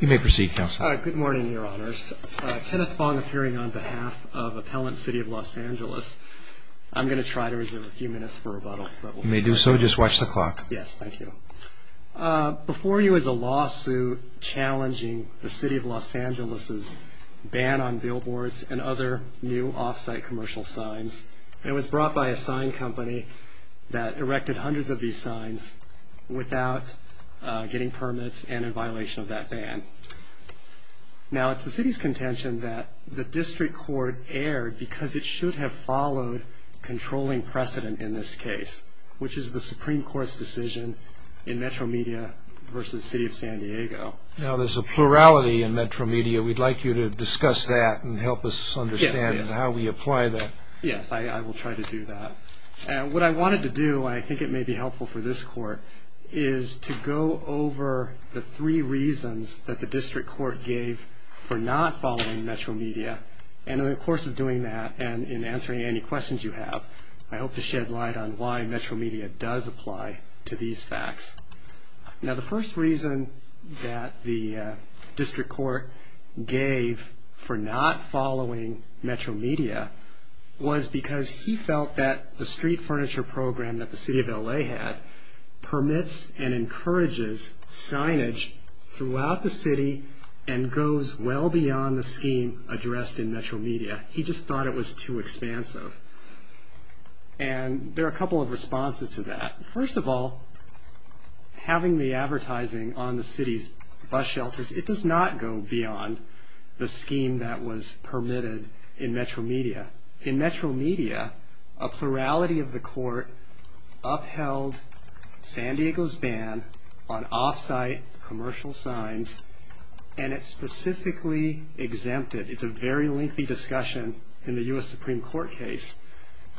You may proceed, Counsel. Good morning, Your Honors. Kenneth Fong appearing on behalf of Appellant City of Los Angeles. I'm going to try to reserve a few minutes for rebuttal. You may do so. Just watch the clock. Yes, thank you. Before you is a lawsuit challenging the City of Los Angeles' ban on billboards and other new off-site commercial signs. It was brought by a sign company that erected hundreds of these signs without getting permits and in violation of that ban. Now, it's the City's contention that the District Court erred because it should have followed controlling precedent in this case, which is the Supreme Court's decision in Metro Media v. City of San Diego. Now, there's a plurality in Metro Media. We'd like you to discuss that and help us understand how we apply that. Yes, I will try to do that. What I wanted to do, and I think it may be helpful for this Court, is to go over the three reasons that the District Court gave for not following Metro Media. And in the course of doing that and in answering any questions you have, I hope to shed light on why Metro Media does apply to these facts. Now, the first reason that the District Court gave for not following Metro Media was because he felt that the street furniture program that the City of L.A. had permits and encourages signage throughout the city and goes well beyond the scheme addressed in Metro Media. He just thought it was too expansive. And there are a couple of responses to that. First of all, having the advertising on the city's bus shelters, it does not go beyond the scheme that was permitted in Metro Media. In Metro Media, a plurality of the Court upheld San Diego's ban on off-site commercial signs, and it specifically exempted, it's a very lengthy discussion in the U.S. Supreme Court case,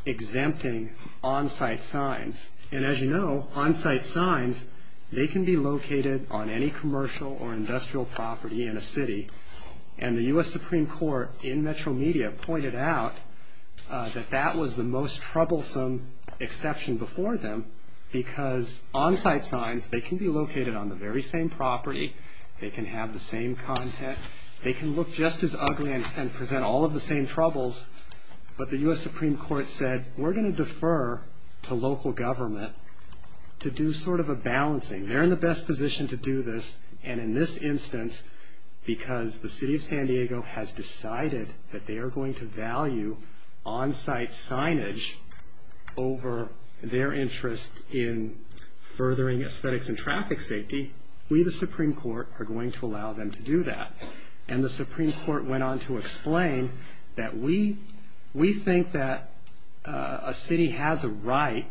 exempting on-site signs. And as you know, on-site signs, they can be located on any commercial or industrial property in a city. And the U.S. Supreme Court in Metro Media pointed out that that was the most troublesome exception before them because on-site signs, they can be located on the very same property, they can have the same content, they can look just as ugly and present all of the same troubles, but the U.S. Supreme Court said, we're going to defer to local government to do sort of a balancing. They're in the best position to do this, and in this instance, because the City of San Diego has decided that they are going to value on-site signage over their interest in furthering aesthetics and traffic safety, we, the Supreme Court, are going to allow them to do that. And the Supreme Court went on to explain that we think that a city has a right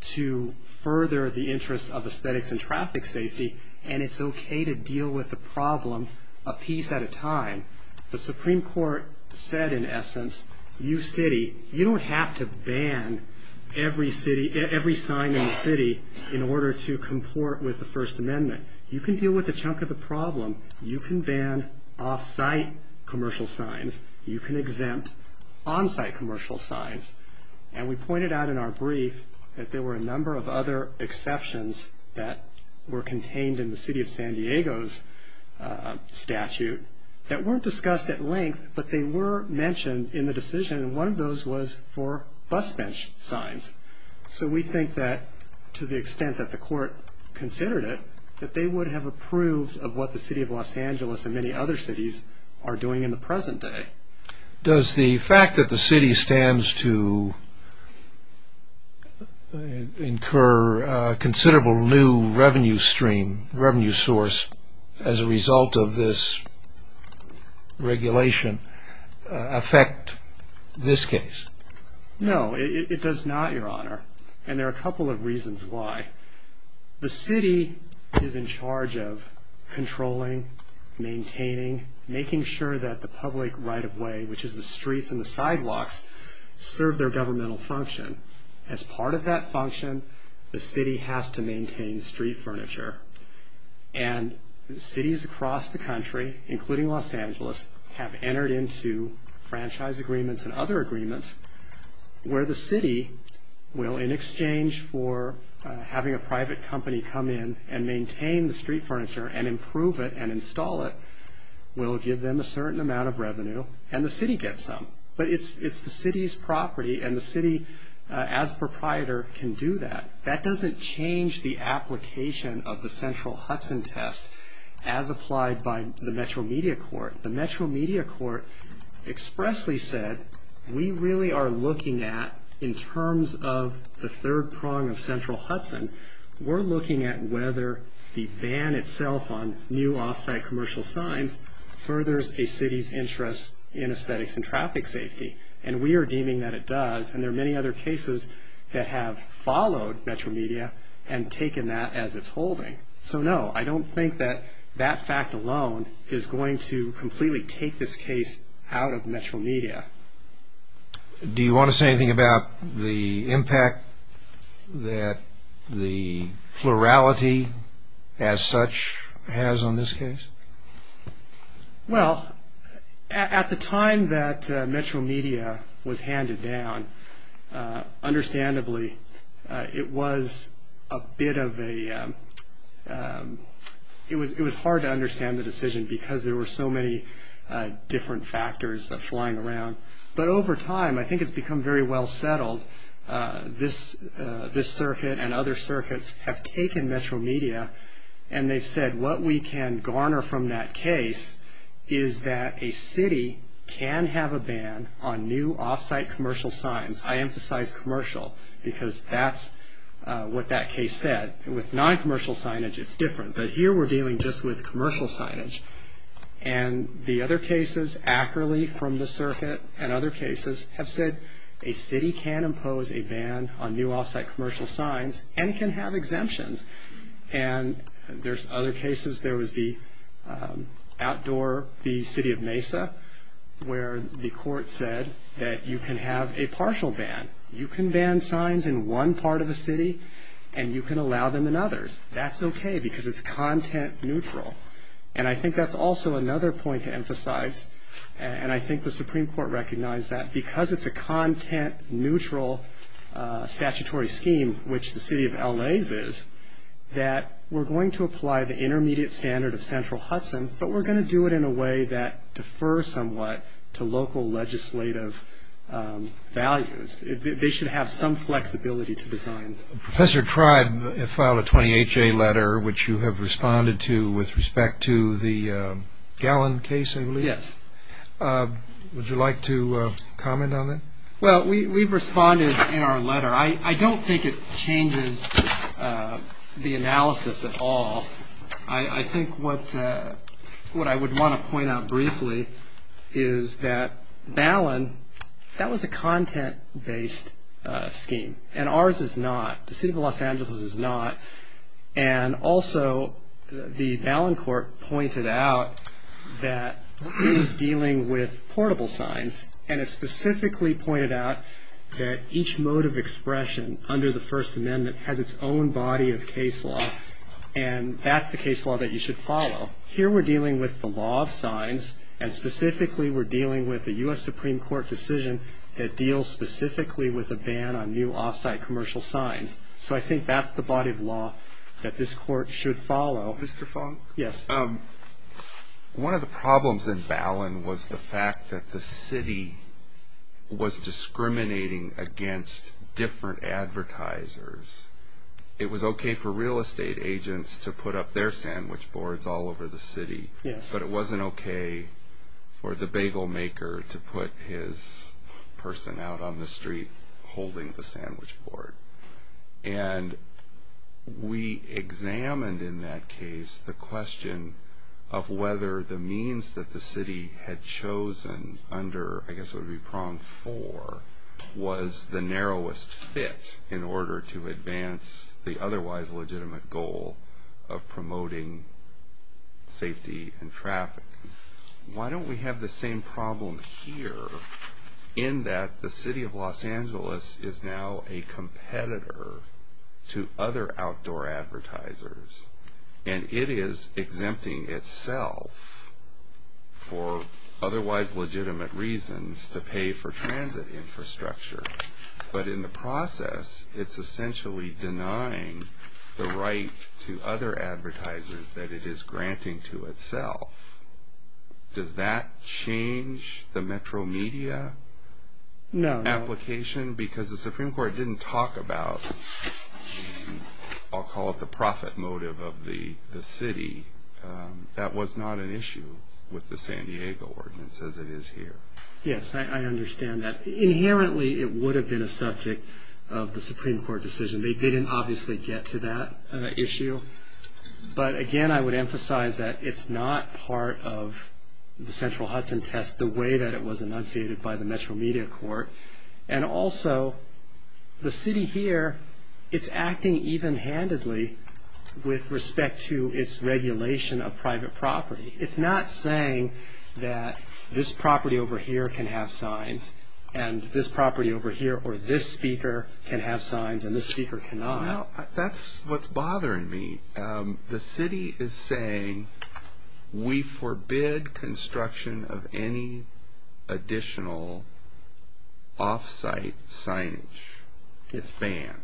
to further the interest of aesthetics and traffic safety, and it's okay to deal with the problem a piece at a time. The Supreme Court said, in essence, you city, you don't have to ban every sign in the city in order to comport with the First Amendment. You can deal with a chunk of the problem. You can ban off-site commercial signs. You can exempt on-site commercial signs. And we pointed out in our brief that there were a number of other exceptions that were contained in the City of San Diego's statute that weren't discussed at length, but they were mentioned in the decision, and one of those was for bus bench signs. So we think that, to the extent that the court considered it, that they would have approved of what the City of Los Angeles and many other cities are doing in the present day. Does the fact that the city stands to incur a considerable new revenue stream, revenue source, as a result of this regulation affect this case? No, it does not, Your Honor, and there are a couple of reasons why. The city is in charge of controlling, maintaining, making sure that the public right-of-way, which is the streets and the sidewalks, serve their governmental function. As part of that function, the city has to maintain street furniture, and cities across the country, including Los Angeles, have entered into franchise agreements and other agreements where the city will, in exchange for having a private company come in and maintain the street furniture and improve it and install it, will give them a certain amount of revenue, and the city gets some. But it's the city's property, and the city, as a proprietor, can do that. That doesn't change the application of the central Hudson test as applied by the Metro Media Court. The Metro Media Court expressly said, we really are looking at, in terms of the third prong of central Hudson, we're looking at whether the ban itself on new off-site commercial signs furthers a city's interest in aesthetics and traffic safety, and we are deeming that it does, and there are many other cases that have followed Metro Media and taken that as its holding. So no, I don't think that that fact alone is going to completely take this case out of Metro Media. Do you want to say anything about the impact that the plurality as such has on this case? Well, at the time that Metro Media was handed down, understandably, it was a bit of a, it was hard to understand the decision because there were so many different factors flying around. But over time, I think it's become very well settled. This circuit and other circuits have taken Metro Media, and they've said, what we can garner from that case is that a city can have a ban on new off-site commercial signs. I emphasize commercial because that's what that case said. With non-commercial signage, it's different, but here we're dealing just with commercial signage. And the other cases accurately from the circuit and other cases have said, a city can impose a ban on new off-site commercial signs and can have exemptions. And there's other cases. There was the outdoor, the city of Mesa, where the court said that you can have a partial ban. You can ban signs in one part of the city, and you can allow them in others. That's okay because it's content neutral. And I think that's also another point to emphasize. And I think the Supreme Court recognized that because it's a content neutral statutory scheme, which the city of L.A.'s is, that we're going to apply the intermediate standard of central Hudson, but we're going to do it in a way that defers somewhat to local legislative values. They should have some flexibility to design. Professor Tribe filed a 28-J letter, which you have responded to with respect to the Gallon case, I believe. Yes. Would you like to comment on that? Well, we've responded in our letter. I don't think it changes the analysis at all. I think what I would want to point out briefly is that Gallon, that was a content-based scheme. And ours is not. The city of Los Angeles's is not. And also, the Gallon court pointed out that it was dealing with portable signs, and it specifically pointed out that each mode of expression under the First Amendment has its own body of case law. And that's the case law that you should follow. Here we're dealing with the law of signs, and specifically we're dealing with a U.S. Supreme Court decision that deals specifically with a ban on new off-site commercial signs. So I think that's the body of law that this court should follow. Mr. Fong? Yes. One of the problems in Gallon was the fact that the city was discriminating against different advertisers. It was okay for real estate agents to put up their sandwich boards all over the city, but it wasn't okay for the bagel maker to put his person out on the street holding the sandwich board. And we examined in that case the question of whether the means that the city had chosen under, I guess it would be prong four, was the narrowest fit in order to advance the otherwise legitimate goal of promoting safety and traffic. Why don't we have the same problem here in that the city of Los Angeles is now a competitor to other outdoor advertisers, and it is exempting itself for otherwise legitimate reasons to pay for transit infrastructure. But in the process, it's essentially denying the right to other advertisers that it is granting to itself. Does that change the metro media application? No. Because the Supreme Court didn't talk about, I'll call it the profit motive of the city. That was not an issue with the San Diego ordinance as it is here. Yes, I understand that. Inherently, it would have been a subject of the Supreme Court decision. They didn't obviously get to that issue. But again, I would emphasize that it's not part of the central Hudson test the way that it was enunciated by the metro media court. And also, the city here, it's acting even-handedly with respect to its regulation of private property. It's not saying that this property over here can have signs and this property over here or this speaker can have signs and this speaker cannot. That's what's bothering me. The city is saying we forbid construction of any additional off-site signage. It's banned.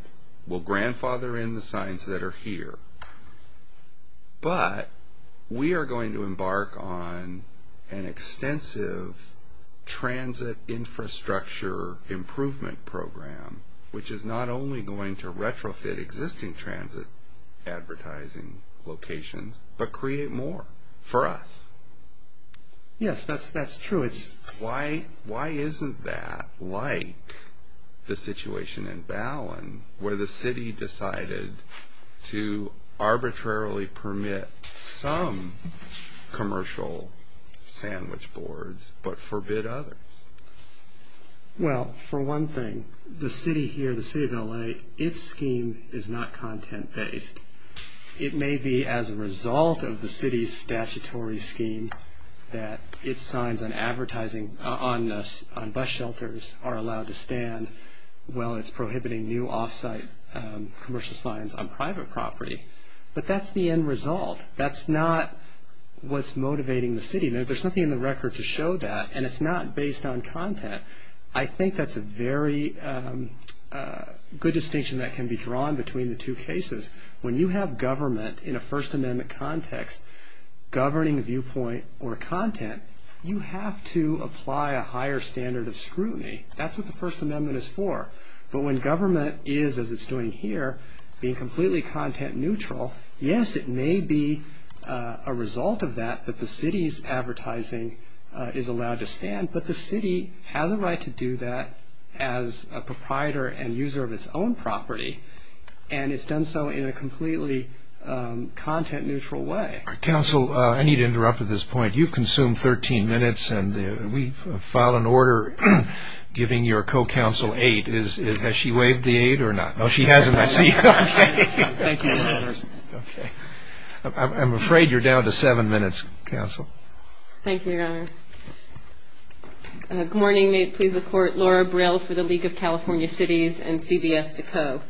We'll grandfather in the signs that are here. But we are going to embark on an extensive transit infrastructure improvement program, which is not only going to retrofit existing transit advertising locations, but create more for us. Yes, that's true. Why isn't that like the situation in Ballin where the city decided to arbitrarily permit some commercial sandwich boards but forbid others? Well, for one thing, the city here, the city of L.A., its scheme is not content-based. It may be as a result of the city's statutory scheme that its signs on bus shelters are allowed to stand while it's prohibiting new off-site commercial signs on private property. But that's the end result. That's not what's motivating the city. There's nothing in the record to show that, and it's not based on content. I think that's a very good distinction that can be drawn between the two cases. When you have government in a First Amendment context governing viewpoint or content, you have to apply a higher standard of scrutiny. That's what the First Amendment is for. But when government is, as it's doing here, being completely content-neutral, yes, it may be a result of that that the city's advertising is allowed to stand, but the city has a right to do that as a proprietor and user of its own property, and it's done so in a completely content-neutral way. Counsel, I need to interrupt at this point. You've consumed 13 minutes, and we've filed an order giving your co-counsel aid. Has she waived the aid or not? No, she hasn't. I see. Thank you, Your Honor. I'm afraid you're down to seven minutes, Counsel. Thank you, Your Honor. Good morning. May it please the Court. Laura Brill for the League of California Cities and CBS Decoe.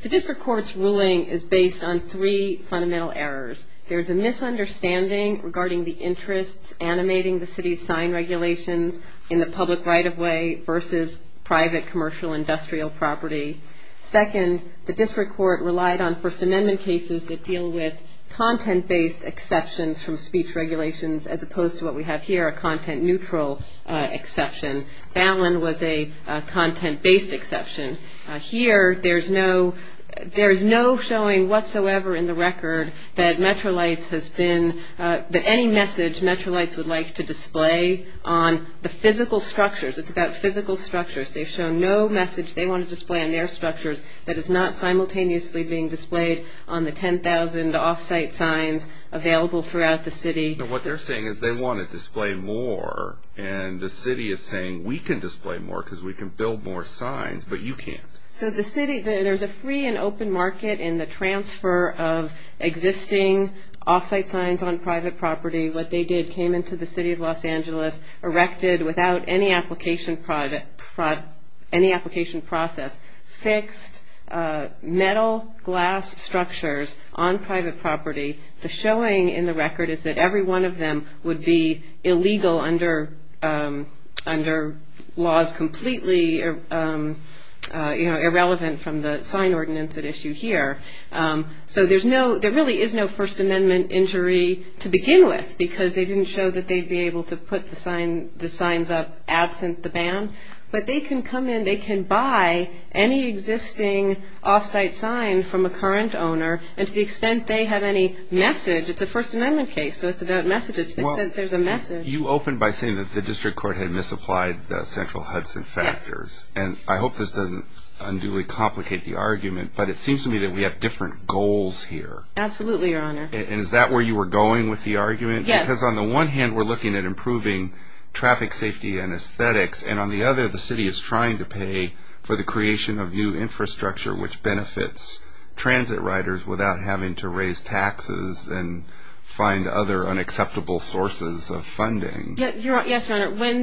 The district court's ruling is based on three fundamental errors. There is a misunderstanding regarding the interests animating the city's sign regulations in the public right-of-way versus private commercial industrial property. Second, the district court relied on First Amendment cases that deal with content-based exceptions from speech regulations as opposed to what we have here, a content-neutral exception. Fallon was a content-based exception. Here, there's no showing whatsoever in the record that any message Metrolights would like to display on the physical structures. It's about physical structures. They've shown no message they want to display on their structures that is not simultaneously being displayed on the 10,000 off-site signs available throughout the city. Now, what they're saying is they want to display more, and the city is saying we can display more because we can build more signs, but you can't. So the city, there's a free and open market in the transfer of existing off-site signs on private property. What they did, came into the city of Los Angeles, erected without any application process, fixed metal glass structures on private property. The showing in the record is that every one of them would be illegal under laws completely irrelevant from the sign ordinance at issue here. So there really is no First Amendment injury to begin with because they didn't show that they'd be able to put the signs up absent the ban, but they can come in, they can buy any existing off-site sign from a current owner, and to the extent they have any message, it's a First Amendment case, so it's about messages. They said there's a message. Well, you opened by saying that the district court had misapplied the central Hudson factors, and I hope this doesn't unduly complicate the argument, but it seems to me that we have different goals here. Absolutely, Your Honor. And is that where you were going with the argument? Yes. Because on the one hand, we're looking at improving traffic safety and aesthetics, and on the other, the city is trying to pay for the creation of new infrastructure which benefits transit riders without having to raise taxes and find other unacceptable sources of funding. Yes, Your Honor. When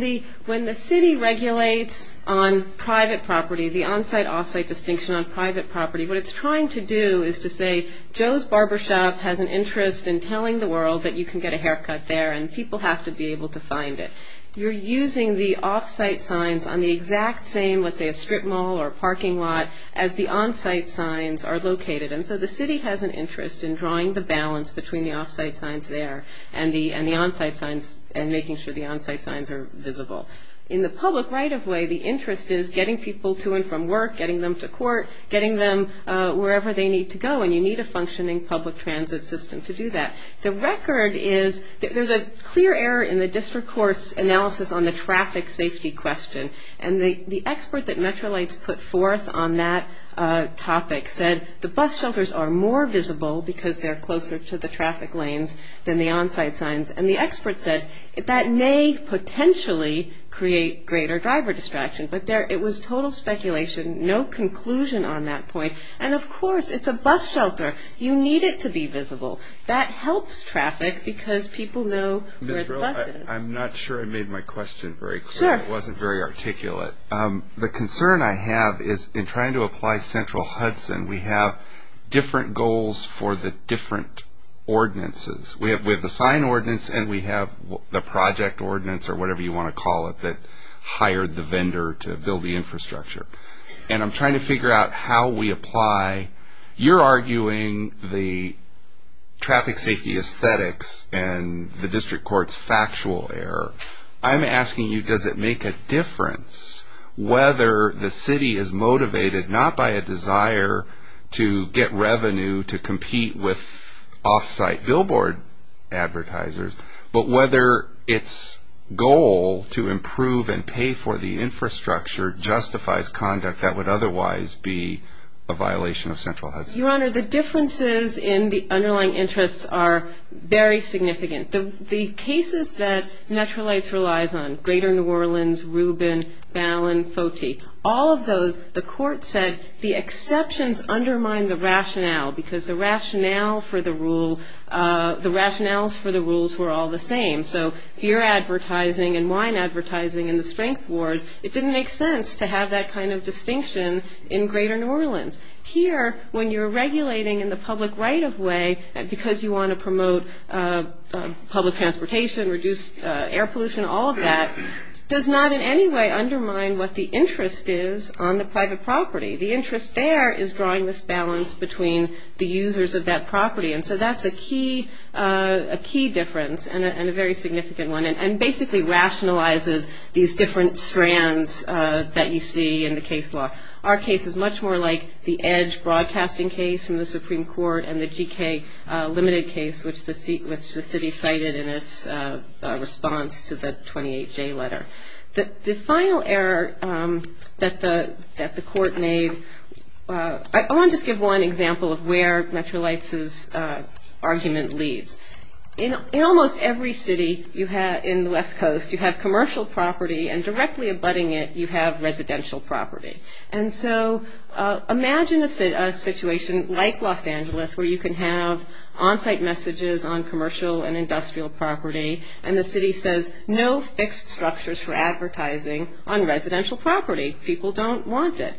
the city regulates on private property, the on-site, off-site distinction on private property, what it's trying to do is to say Joe's Barbershop has an interest in telling the world that you can get a haircut there and people have to be able to find it. You're using the off-site signs on the exact same, let's say, a strip mall or a parking lot, as the on-site signs are located, and so the city has an interest in drawing the balance between the off-site signs there and the on-site signs and making sure the on-site signs are visible. In the public right-of-way, the interest is getting people to and from work, getting them to court, getting them wherever they need to go, and you need a functioning public transit system to do that. The record is that there's a clear error in the district court's analysis on the traffic safety question, and the expert that Metrolights put forth on that topic said the bus shelters are more visible because they're closer to the traffic lanes than the on-site signs, and the expert said that may potentially create greater driver distraction, but it was total speculation, no conclusion on that point. And, of course, it's a bus shelter. You need it to be visible. That helps traffic because people know where the bus is. Ms. Brill, I'm not sure I made my question very clear. Sure. It wasn't very articulate. The concern I have is in trying to apply Central Hudson, we have different goals for the different ordinances. We have the sign ordinance and we have the project ordinance, or whatever you want to call it, that hired the vendor to build the infrastructure. And I'm trying to figure out how we apply. You're arguing the traffic safety aesthetics and the district court's factual error. I'm asking you does it make a difference whether the city is motivated not by a desire to get revenue to compete with off-site billboard advertisers, but whether its goal to improve and pay for the infrastructure justifies conduct that would otherwise be a violation of Central Hudson? Your Honor, the differences in the underlying interests are very significant. The cases that Natural Lights relies on, Greater New Orleans, Rubin, Ballin, Foti, all of those the court said the exceptions undermine the rationale because the rationales for the rules were all the same. So beer advertising and wine advertising in the strength wars, it didn't make sense to have that kind of distinction in Greater New Orleans. Here, when you're regulating in the public right-of-way, because you want to promote public transportation, reduce air pollution, all of that, does not in any way undermine what the interest is on the private property. The interest there is drawing this balance between the users of that property, and so that's a key difference and a very significant one and basically rationalizes these different strands that you see in the case law. Our case is much more like the Edge broadcasting case from the Supreme Court and the GK limited case, which the city cited in its response to the 28J letter. The final error that the court made, I want to just give one example of where Natural Lights' argument leads. In almost every city in the West Coast, you have commercial property, and directly abutting it, you have residential property. Imagine a situation like Los Angeles, where you can have on-site messages on commercial and industrial property, and the city says, no fixed structures for advertising on residential property. People don't want it.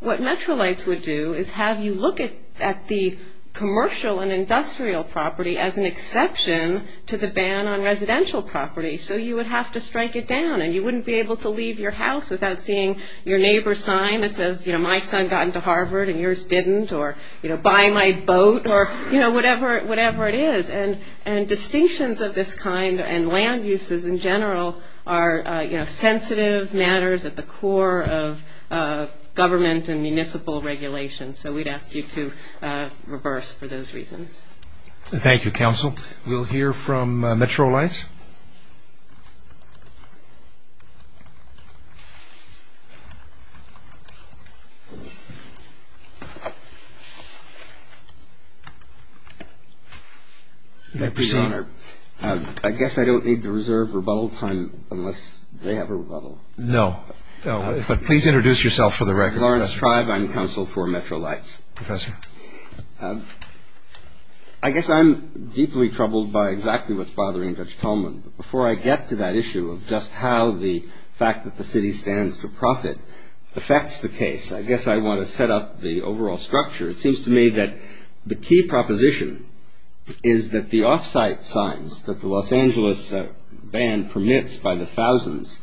What Natural Lights would do is have you look at the commercial and industrial property as an exception to the ban on residential property, so you would have to strike it down, and you wouldn't be able to leave your house without seeing your neighbor's sign that says, my son got into Harvard and yours didn't, or buy my boat, or whatever it is, and distinctions of this kind and land uses in general are sensitive matters at the core of government and municipal regulation, so we'd ask you to reverse for those reasons. Thank you, Counsel. We'll hear from Metro Lights. May I proceed? Your Honor, I guess I don't need to reserve rebuttal time unless they have a rebuttal. No. But please introduce yourself for the record. Lawrence Tribe. I'm counsel for Metro Lights. Professor. I guess I'm deeply troubled by exactly what's bothering Judge Tolman. Before I get to that issue of just how the fact that the city stands to profit affects the case, I guess I want to set up the overall structure. It seems to me that the key proposition is that the off-site signs that the Los Angeles ban permits by the thousands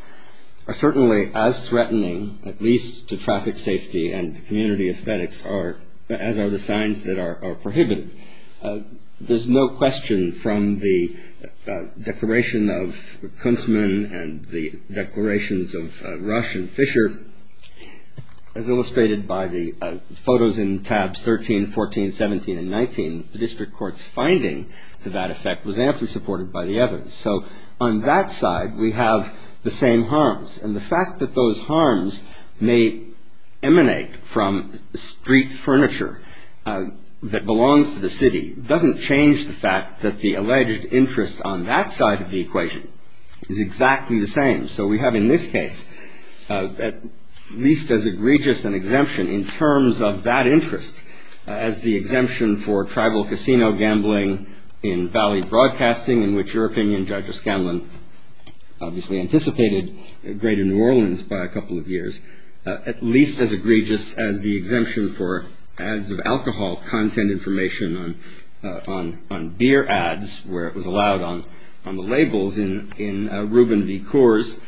are certainly as threatening, at least to traffic safety and community aesthetics, as are the signs that are prohibited. There's no question from the declaration of Kunstmann and the declarations of Rush and Fisher, as illustrated by the photos in tabs 13, 14, 17, and 19, the district court's finding to that effect was amply supported by the evidence. So on that side, we have the same harms. And the fact that those harms may emanate from street furniture that belongs to the city doesn't change the fact that the alleged interest on that side of the equation is exactly the same. So we have in this case, at least as egregious an exemption in terms of that interest, as the exemption for tribal casino gambling in Valley Broadcasting, in which your opinion, Judge O'Scanlan, obviously anticipated greater New Orleans by a couple of years, at least as egregious as the exemption for ads of alcohol content information on beer ads, where it was allowed on the labels in Rubin v. Coors,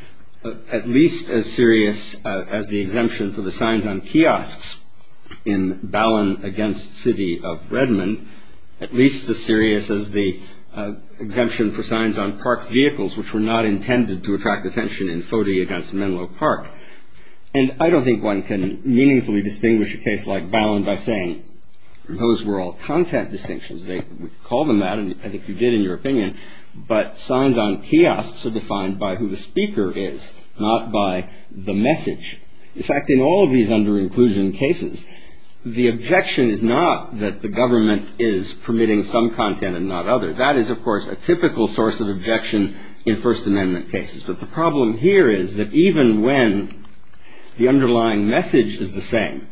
at least as serious as the exemption for the signs on kiosks in Ballin v. City of Redmond, at least as serious as the exemption for signs on park vehicles, which were not intended to attract attention in Fody v. Menlo Park. And I don't think one can meaningfully distinguish a case like Ballin by saying, those were all content distinctions. They would call them that, and I think you did in your opinion. But signs on kiosks are defined by who the speaker is, not by the message. In fact, in all of these under-inclusion cases, the objection is not that the government is permitting some content and not other. That is, of course, a typical source of objection in First Amendment cases. But the problem here is that even when the underlying message is the same,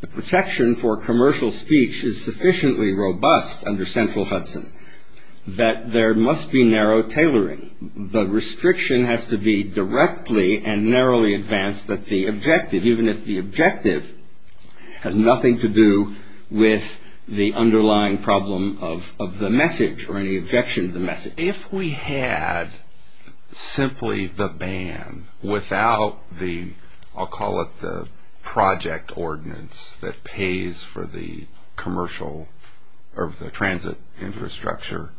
the protection for commercial speech is sufficiently robust under central Hudson that there must be narrow tailoring. The restriction has to be directly and narrowly advanced at the objective, even if the objective has nothing to do with the underlying problem of the message or any objection to the message. If we had simply the ban without the, I'll call it the project ordinance that pays for the commercial or the transit infrastructure,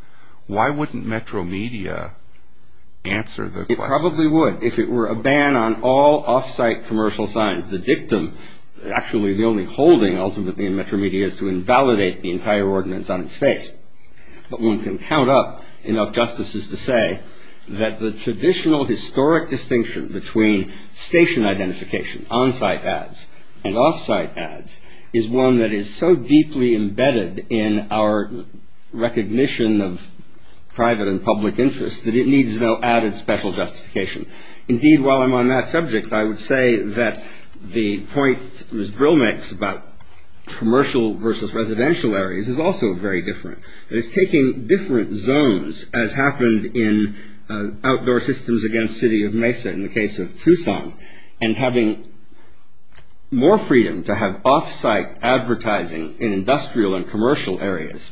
why wouldn't Metro Media answer the question? It probably would if it were a ban on all off-site commercial signs. The dictum, actually the only holding ultimately in Metro Media is to invalidate the entire ordinance on its face. But one can count up enough justices to say that the traditional historic distinction between station identification, on-site ads, and off-site ads is one that is so deeply embedded in our recognition of private and public interest that it needs no added special justification. Indeed, while I'm on that subject, I would say that the point Ms. Brill makes about commercial versus residential areas is also very different. It's taking different zones as happened in outdoor systems against City of Mesa in the case of Tucson and having more freedom to have off-site advertising in industrial and commercial areas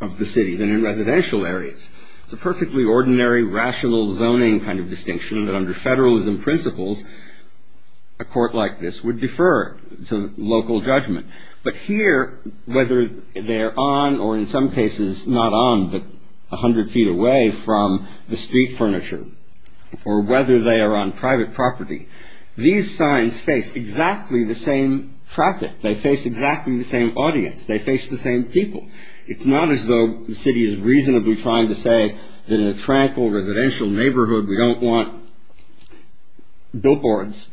of the city than in residential areas. It's a perfectly ordinary rational zoning kind of distinction that under federalism principles a court like this would defer to local judgment. But here, whether they're on or in some cases not on but 100 feet away from the street furniture or whether they are on private property, these signs face exactly the same traffic. They face exactly the same audience. They face the same people. It's not as though the city is reasonably trying to say that in a tranquil residential neighborhood we don't want billboards,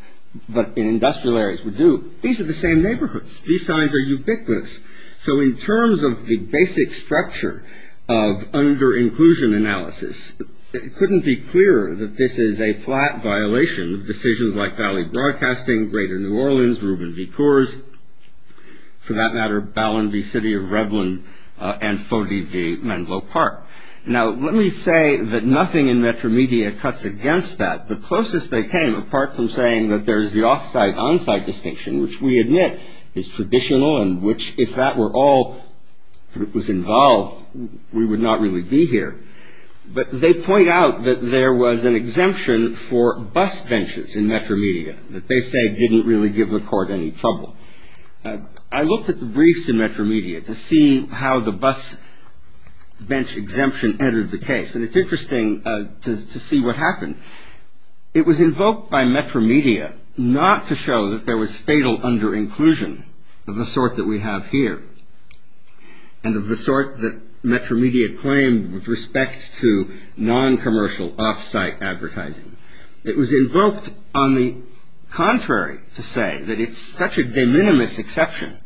but in industrial areas we do. These are the same neighborhoods. These signs are ubiquitous. So in terms of the basic structure of under-inclusion analysis, it couldn't be clearer that this is a flat violation of decisions like Valley Broadcasting, Greater New Orleans, Rubin v. Coors, for that matter, Ballon v. City of Revlon and Fody v. Menlo Park. Now, let me say that nothing in Metromedia cuts against that. The closest they came, apart from saying that there's the off-site, on-site distinction, which we admit is traditional and which if that were all that was involved we would not really be here, but they point out that there was an exemption for bus benches in Metromedia that they say didn't really give the court any trouble. I looked at the briefs in Metromedia to see how the bus bench exemption entered the case, and it's interesting to see what happened. It was invoked by Metromedia not to show that there was fatal under-inclusion of the sort that we have here and of the sort that Metromedia claimed with respect to non-commercial off-site advertising. It was invoked on the contrary to say that it's such a de minimis exception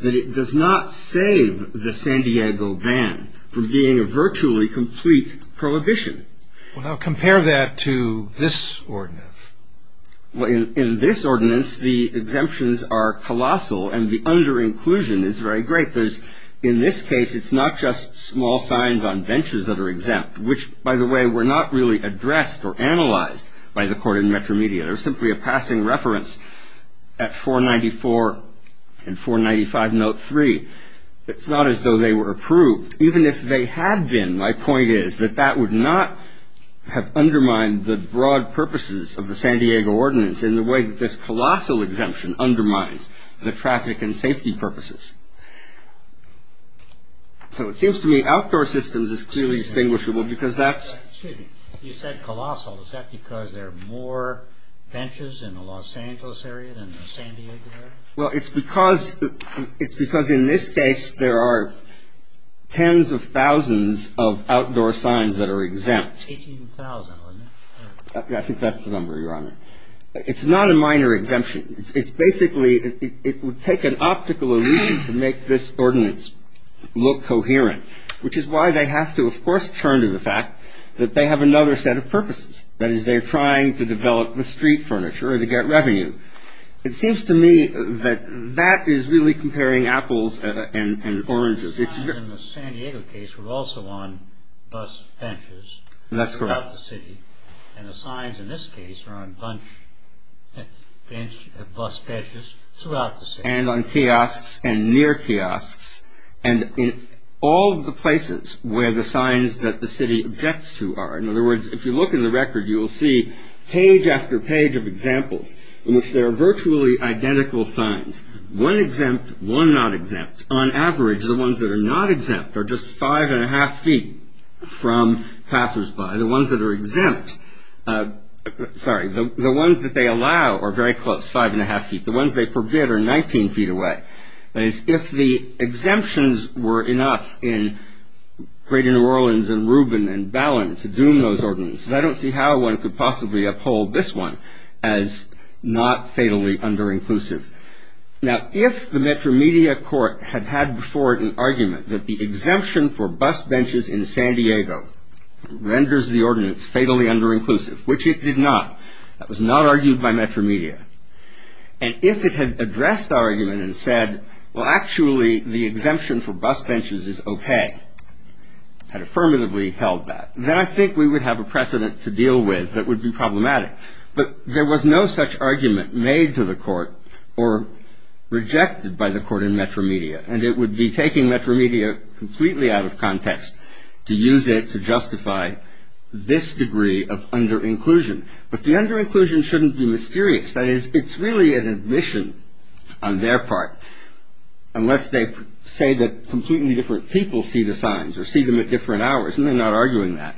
that it does not save the San Diego ban from being a virtually complete prohibition. Well, now compare that to this ordinance. In this ordinance, the exemptions are colossal and the under-inclusion is very great. In this case, it's not just small signs on benches that are exempt, which, by the way, were not really addressed or analyzed by the court in Metromedia. They're simply a passing reference at 494 and 495 note 3. It's not as though they were approved. Even if they had been, my point is that that would not have undermined the broad purposes of the San Diego ordinance in the way that this colossal exemption undermines the traffic and safety purposes. So it seems to me outdoor systems is clearly distinguishable because that's... Well, it's because in this case there are tens of thousands of outdoor signs that are exempt. I think that's the number, Your Honor. It's not a minor exemption. It's basically it would take an optical illusion to make this ordinance look coherent, which is why they have to, of course, turn to the fact that they have another set of purposes. That is, they're trying to develop the street furniture to get revenue. It seems to me that that is really comparing apples and oranges. The signs in the San Diego case were also on bus benches throughout the city. That's correct. And the signs in this case are on bus benches throughout the city. And on kiosks and near kiosks and in all of the places where the signs that the city objects to are. In other words, if you look in the record, you will see page after page of examples in which there are virtually identical signs, one exempt, one not exempt. On average, the ones that are not exempt are just 5 1⁄2 feet from passersby. The ones that are exempt, sorry, the ones that they allow are very close, 5 1⁄2 feet. The ones they forbid are 19 feet away. That is, if the exemptions were enough in Greater New Orleans and Reuben and Ballin to doom those ordinances, I don't see how one could possibly uphold this one as not fatally under-inclusive. Now, if the Metromedia court had had before it an argument that the exemption for bus benches in San Diego renders the ordinance fatally under-inclusive, which it did not, that was not argued by Metromedia, and if it had addressed the argument and said, well, actually, the exemption for bus benches is okay, had affirmatively held that, then I think we would have a precedent to deal with that would be problematic. But there was no such argument made to the court or rejected by the court in Metromedia, and it would be taking Metromedia completely out of context to use it to justify this degree of under-inclusion. But the under-inclusion shouldn't be mysterious. That is, it's really an admission on their part, unless they say that completely different people see the signs or see them at different hours, and they're not arguing that,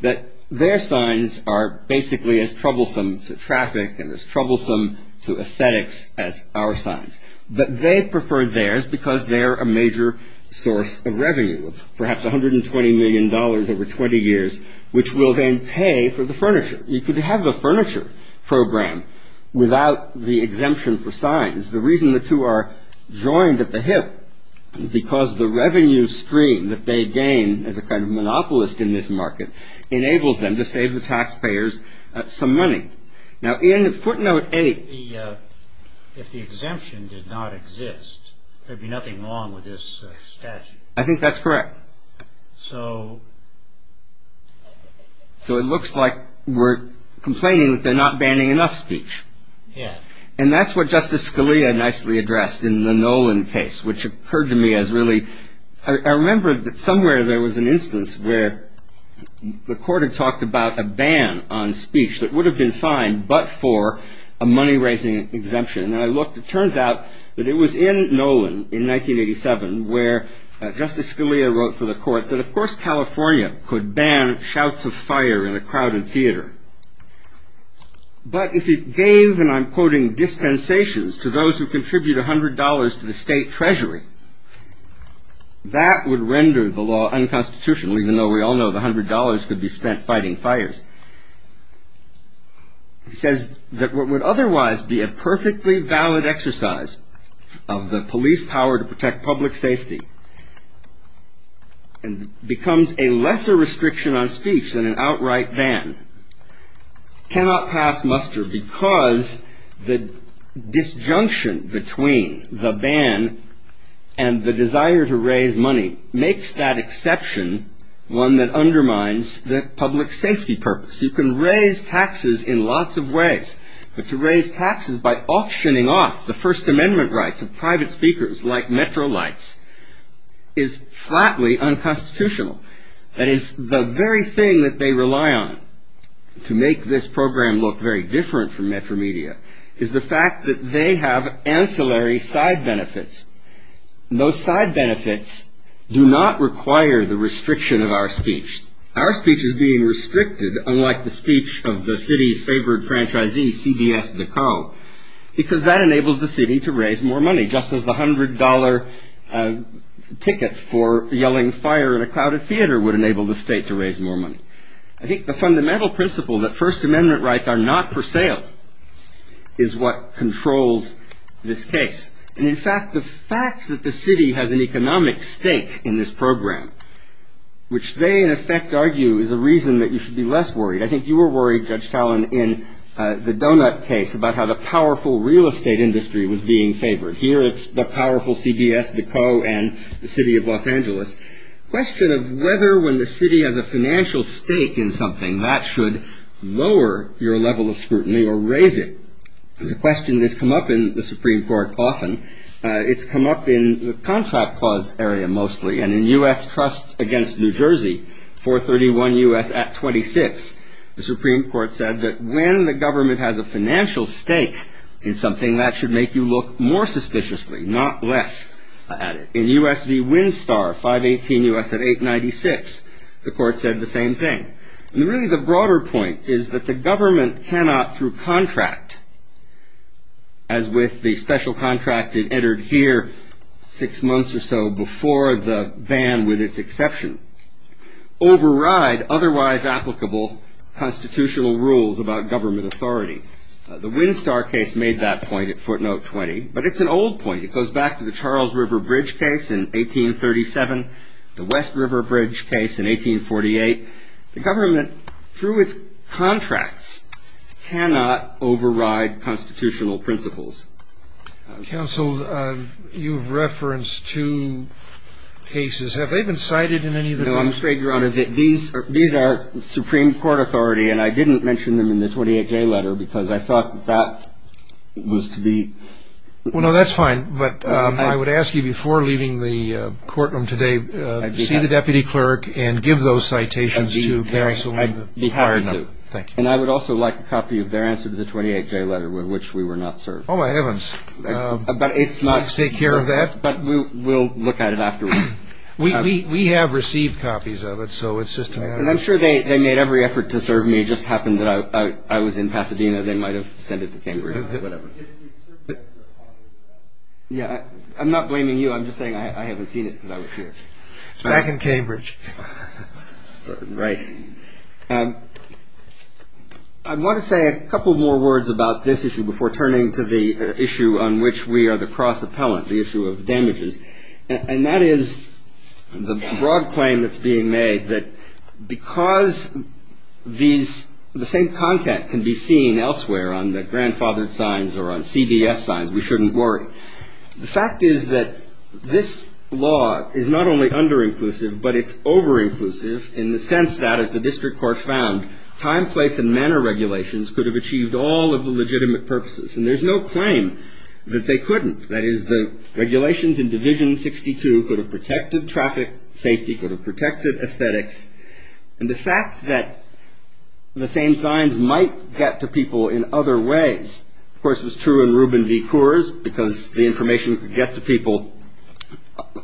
that their signs are basically as troublesome to traffic and as troublesome to aesthetics as our signs. But they prefer theirs because they're a major source of revenue, perhaps $120 million over 20 years, which will then pay for the furniture. You could have a furniture program without the exemption for signs. The reason the two are joined at the hip is because the revenue stream that they gain as a kind of monopolist in this market enables them to save the taxpayers some money. Now, in footnote 8. If the exemption did not exist, there'd be nothing wrong with this statute. I think that's correct. So it looks like we're complaining that they're not banning enough speech. Yeah. And that's what Justice Scalia nicely addressed in the Nolan case, which occurred to me as really I remember that somewhere there was an instance where the court had talked about a ban on speech that would have been fine but for a money-raising exemption. And I looked. It turns out that it was in Nolan in 1987 where Justice Scalia wrote for the court that, of course, California could ban shouts of fire in a crowded theater. But if it gave, and I'm quoting, dispensations to those who contribute $100 to the state treasury, that would render the law unconstitutional, even though we all know the $100 could be spent fighting fires. He says that what would otherwise be a perfectly valid exercise of the police power to protect public safety and becomes a lesser restriction on speech than an outright ban, cannot pass muster because the disjunction between the ban and the desire to raise money makes that exception one that undermines the public safety purpose. You can raise taxes in lots of ways. But to raise taxes by auctioning off the First Amendment rights of private speakers like Metrolights is flatly unconstitutional. That is, the very thing that they rely on to make this program look very different from Metro Media is the fact that they have ancillary side benefits. Those side benefits do not require the restriction of our speech. Our speech is being restricted, unlike the speech of the city's favorite franchisee, CBS Decaux, because that enables the city to raise more money, just as the $100 ticket for yelling fire in a crowded theater would enable the state to raise more money. I think the fundamental principle that First Amendment rights are not for sale is what controls this case. And, in fact, the fact that the city has an economic stake in this program, which they, in effect, argue is a reason that you should be less worried. I think you were worried, Judge Talen, in the donut case about how the powerful real estate industry was being favored. Here it's the powerful CBS Decaux and the city of Los Angeles. The question of whether when the city has a financial stake in something, that should lower your level of scrutiny or raise it is a question that's come up in the Supreme Court more often, it's come up in the contract clause area mostly. And in U.S. Trust against New Jersey, 431 U.S. at 26, the Supreme Court said that when the government has a financial stake in something, that should make you look more suspiciously, not less at it. In U.S. v. Winstar, 518 U.S. at 896, the court said the same thing. And, really, the broader point is that the government cannot, through contract, as with the special contract that entered here six months or so before the ban with its exception, override otherwise applicable constitutional rules about government authority. The Winstar case made that point at footnote 20. But it's an old point. It goes back to the Charles River Bridge case in 1837, the West River Bridge case in 1848. The government, through its contracts, cannot override constitutional principles. Counsel, you've referenced two cases. Have they been cited in any of the courts? No, I'm afraid, Your Honor, that these are Supreme Court authority, and I didn't mention them in the 28-J letter because I thought that was to be. Well, no, that's fine. But I would ask you, before leaving the courtroom today, see the deputy clerk and give those citations to counsel. I'd be happy to. Thank you. And I would also like a copy of their answer to the 28-J letter, with which we were not served. Oh, my heavens. Can you take care of that? But we'll look at it afterward. We have received copies of it. And I'm sure they made every effort to serve me. It just happened that I was in Pasadena. They might have sent it to Cambridge or whatever. Yeah, I'm not blaming you. I'm just saying I haven't seen it because I was here. It's back in Cambridge. Right. I want to say a couple more words about this issue before turning to the issue on which we are the cross-appellant, the issue of damages. And that is the broad claim that's being made that because these – on the grandfathered signs or on CBS signs, we shouldn't worry. The fact is that this law is not only under-inclusive, but it's over-inclusive in the sense that, as the district court found, time, place, and manner regulations could have achieved all of the legitimate purposes. And there's no claim that they couldn't. That is, the regulations in Division 62 could have protected traffic safety, could have protected aesthetics. And the fact that the same signs might get to people in other ways – of course, it was true in Rubin v. Coors, because the information could get to people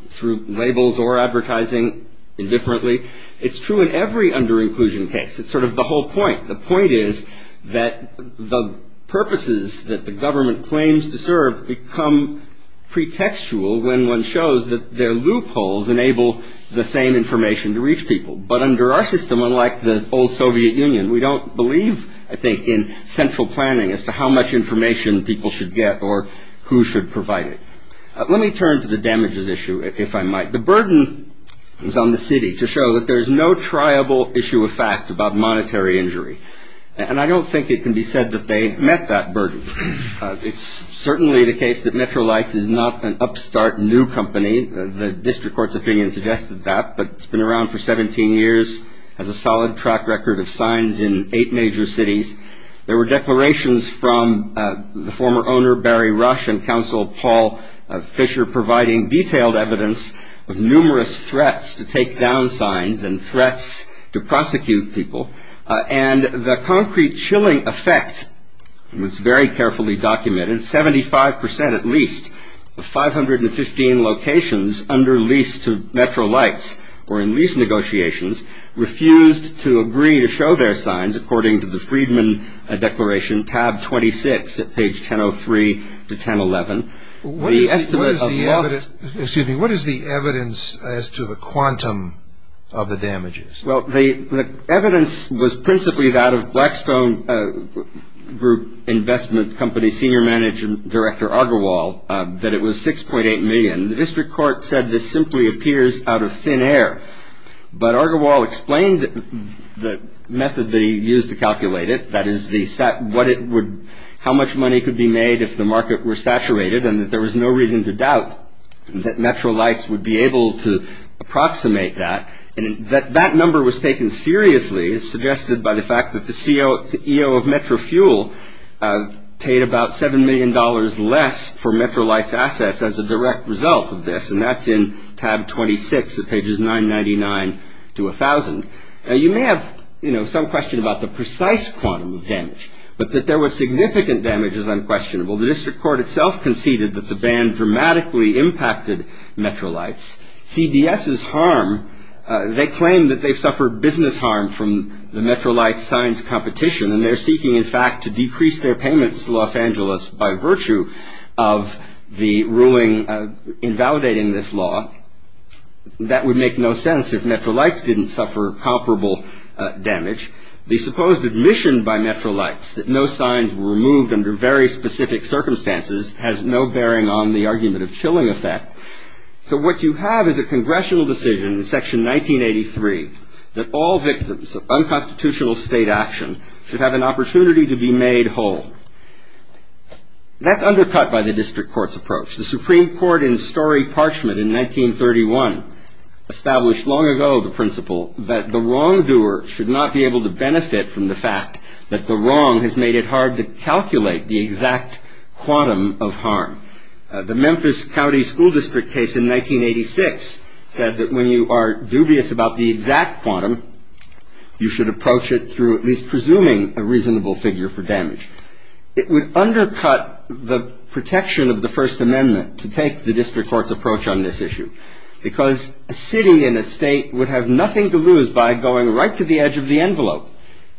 through labels or advertising indifferently. It's true in every under-inclusion case. It's sort of the whole point. The point is that the purposes that the government claims to serve become pretextual when one shows that their loopholes enable the same information to reach people. But under our system, unlike the old Soviet Union, we don't believe, I think, in central planning as to how much information people should get or who should provide it. Let me turn to the damages issue, if I might. The burden is on the city to show that there's no triable issue of fact about monetary injury. And I don't think it can be said that they've met that burden. It's certainly the case that Metrolights is not an upstart new company. The district court's opinion suggested that, but it's been around for 17 years, has a solid track record of signs in eight major cities. There were declarations from the former owner, Barry Rush, and counsel Paul Fisher providing detailed evidence of numerous threats to take down signs and threats to prosecute people. And the concrete chilling effect was very carefully documented. Seventy-five percent, at least, of 515 locations under lease to Metrolights or in lease negotiations refused to agree to show their signs, according to the Freedman Declaration, tab 26 at page 1003 to 1011. What is the evidence as to the quantum of the damages? Well, the evidence was principally that of Blackstone Group Investment Company senior manager, Director Agarwal, that it was $6.8 million. The district court said this simply appears out of thin air. But Agarwal explained the method that he used to calculate it, that is how much money could be made if the market were saturated and that there was no reason to doubt that Metrolights would be able to approximate that. And that number was taken seriously, as suggested by the fact that the CEO of Metro Fuel paid about $7 million less for Metrolights' assets as a direct result of this, and that's in tab 26 at pages 999 to 1000. Now, you may have, you know, some question about the precise quantum of damage, but that there was significant damage is unquestionable. The district court itself conceded that the ban dramatically impacted Metrolights. CBS's harm, they claim that they've suffered business harm from the Metrolights' signs competition, and they're seeking, in fact, to decrease their payments to Los Angeles by virtue of the ruling invalidating this law. That would make no sense if Metrolights didn't suffer comparable damage. The supposed admission by Metrolights that no signs were removed under very specific circumstances has no bearing on the argument of chilling effect. So what you have is a congressional decision in section 1983 that all victims of unconstitutional state action should have an opportunity to be made whole. That's undercut by the district court's approach. The Supreme Court in Story Parchment in 1931 established long ago the principle that the wrongdoer should not be able to benefit from the fact that the wrong has made it hard to calculate the exact quantum of harm. The Memphis County School District case in 1986 said that when you are dubious about the exact quantum, you should approach it through at least presuming a reasonable figure for damage. It would undercut the protection of the First Amendment to take the district court's approach on this issue because a city and a state would have nothing to lose by going right to the edge of the envelope.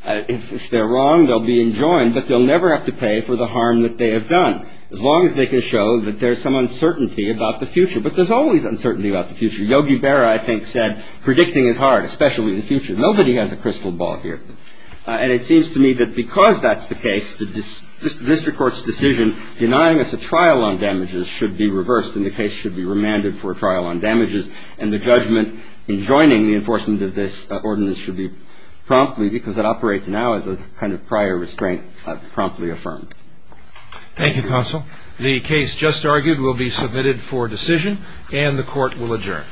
If they're wrong, they'll be enjoined, but they'll never have to pay for the harm that they have done as long as they can show that there's some uncertainty about the future. But there's always uncertainty about the future. Yogi Berra, I think, said predicting is hard, especially in the future. Nobody has a crystal ball here. And it seems to me that because that's the case, the district court's decision denying us a trial on damages should be reversed and the case should be remanded for a trial on damages, and the judgment enjoining the enforcement of this ordinance should be promptly because it operates now as a kind of prior restraint promptly affirmed. Thank you, counsel. The case just argued will be submitted for decision, and the court will adjourn.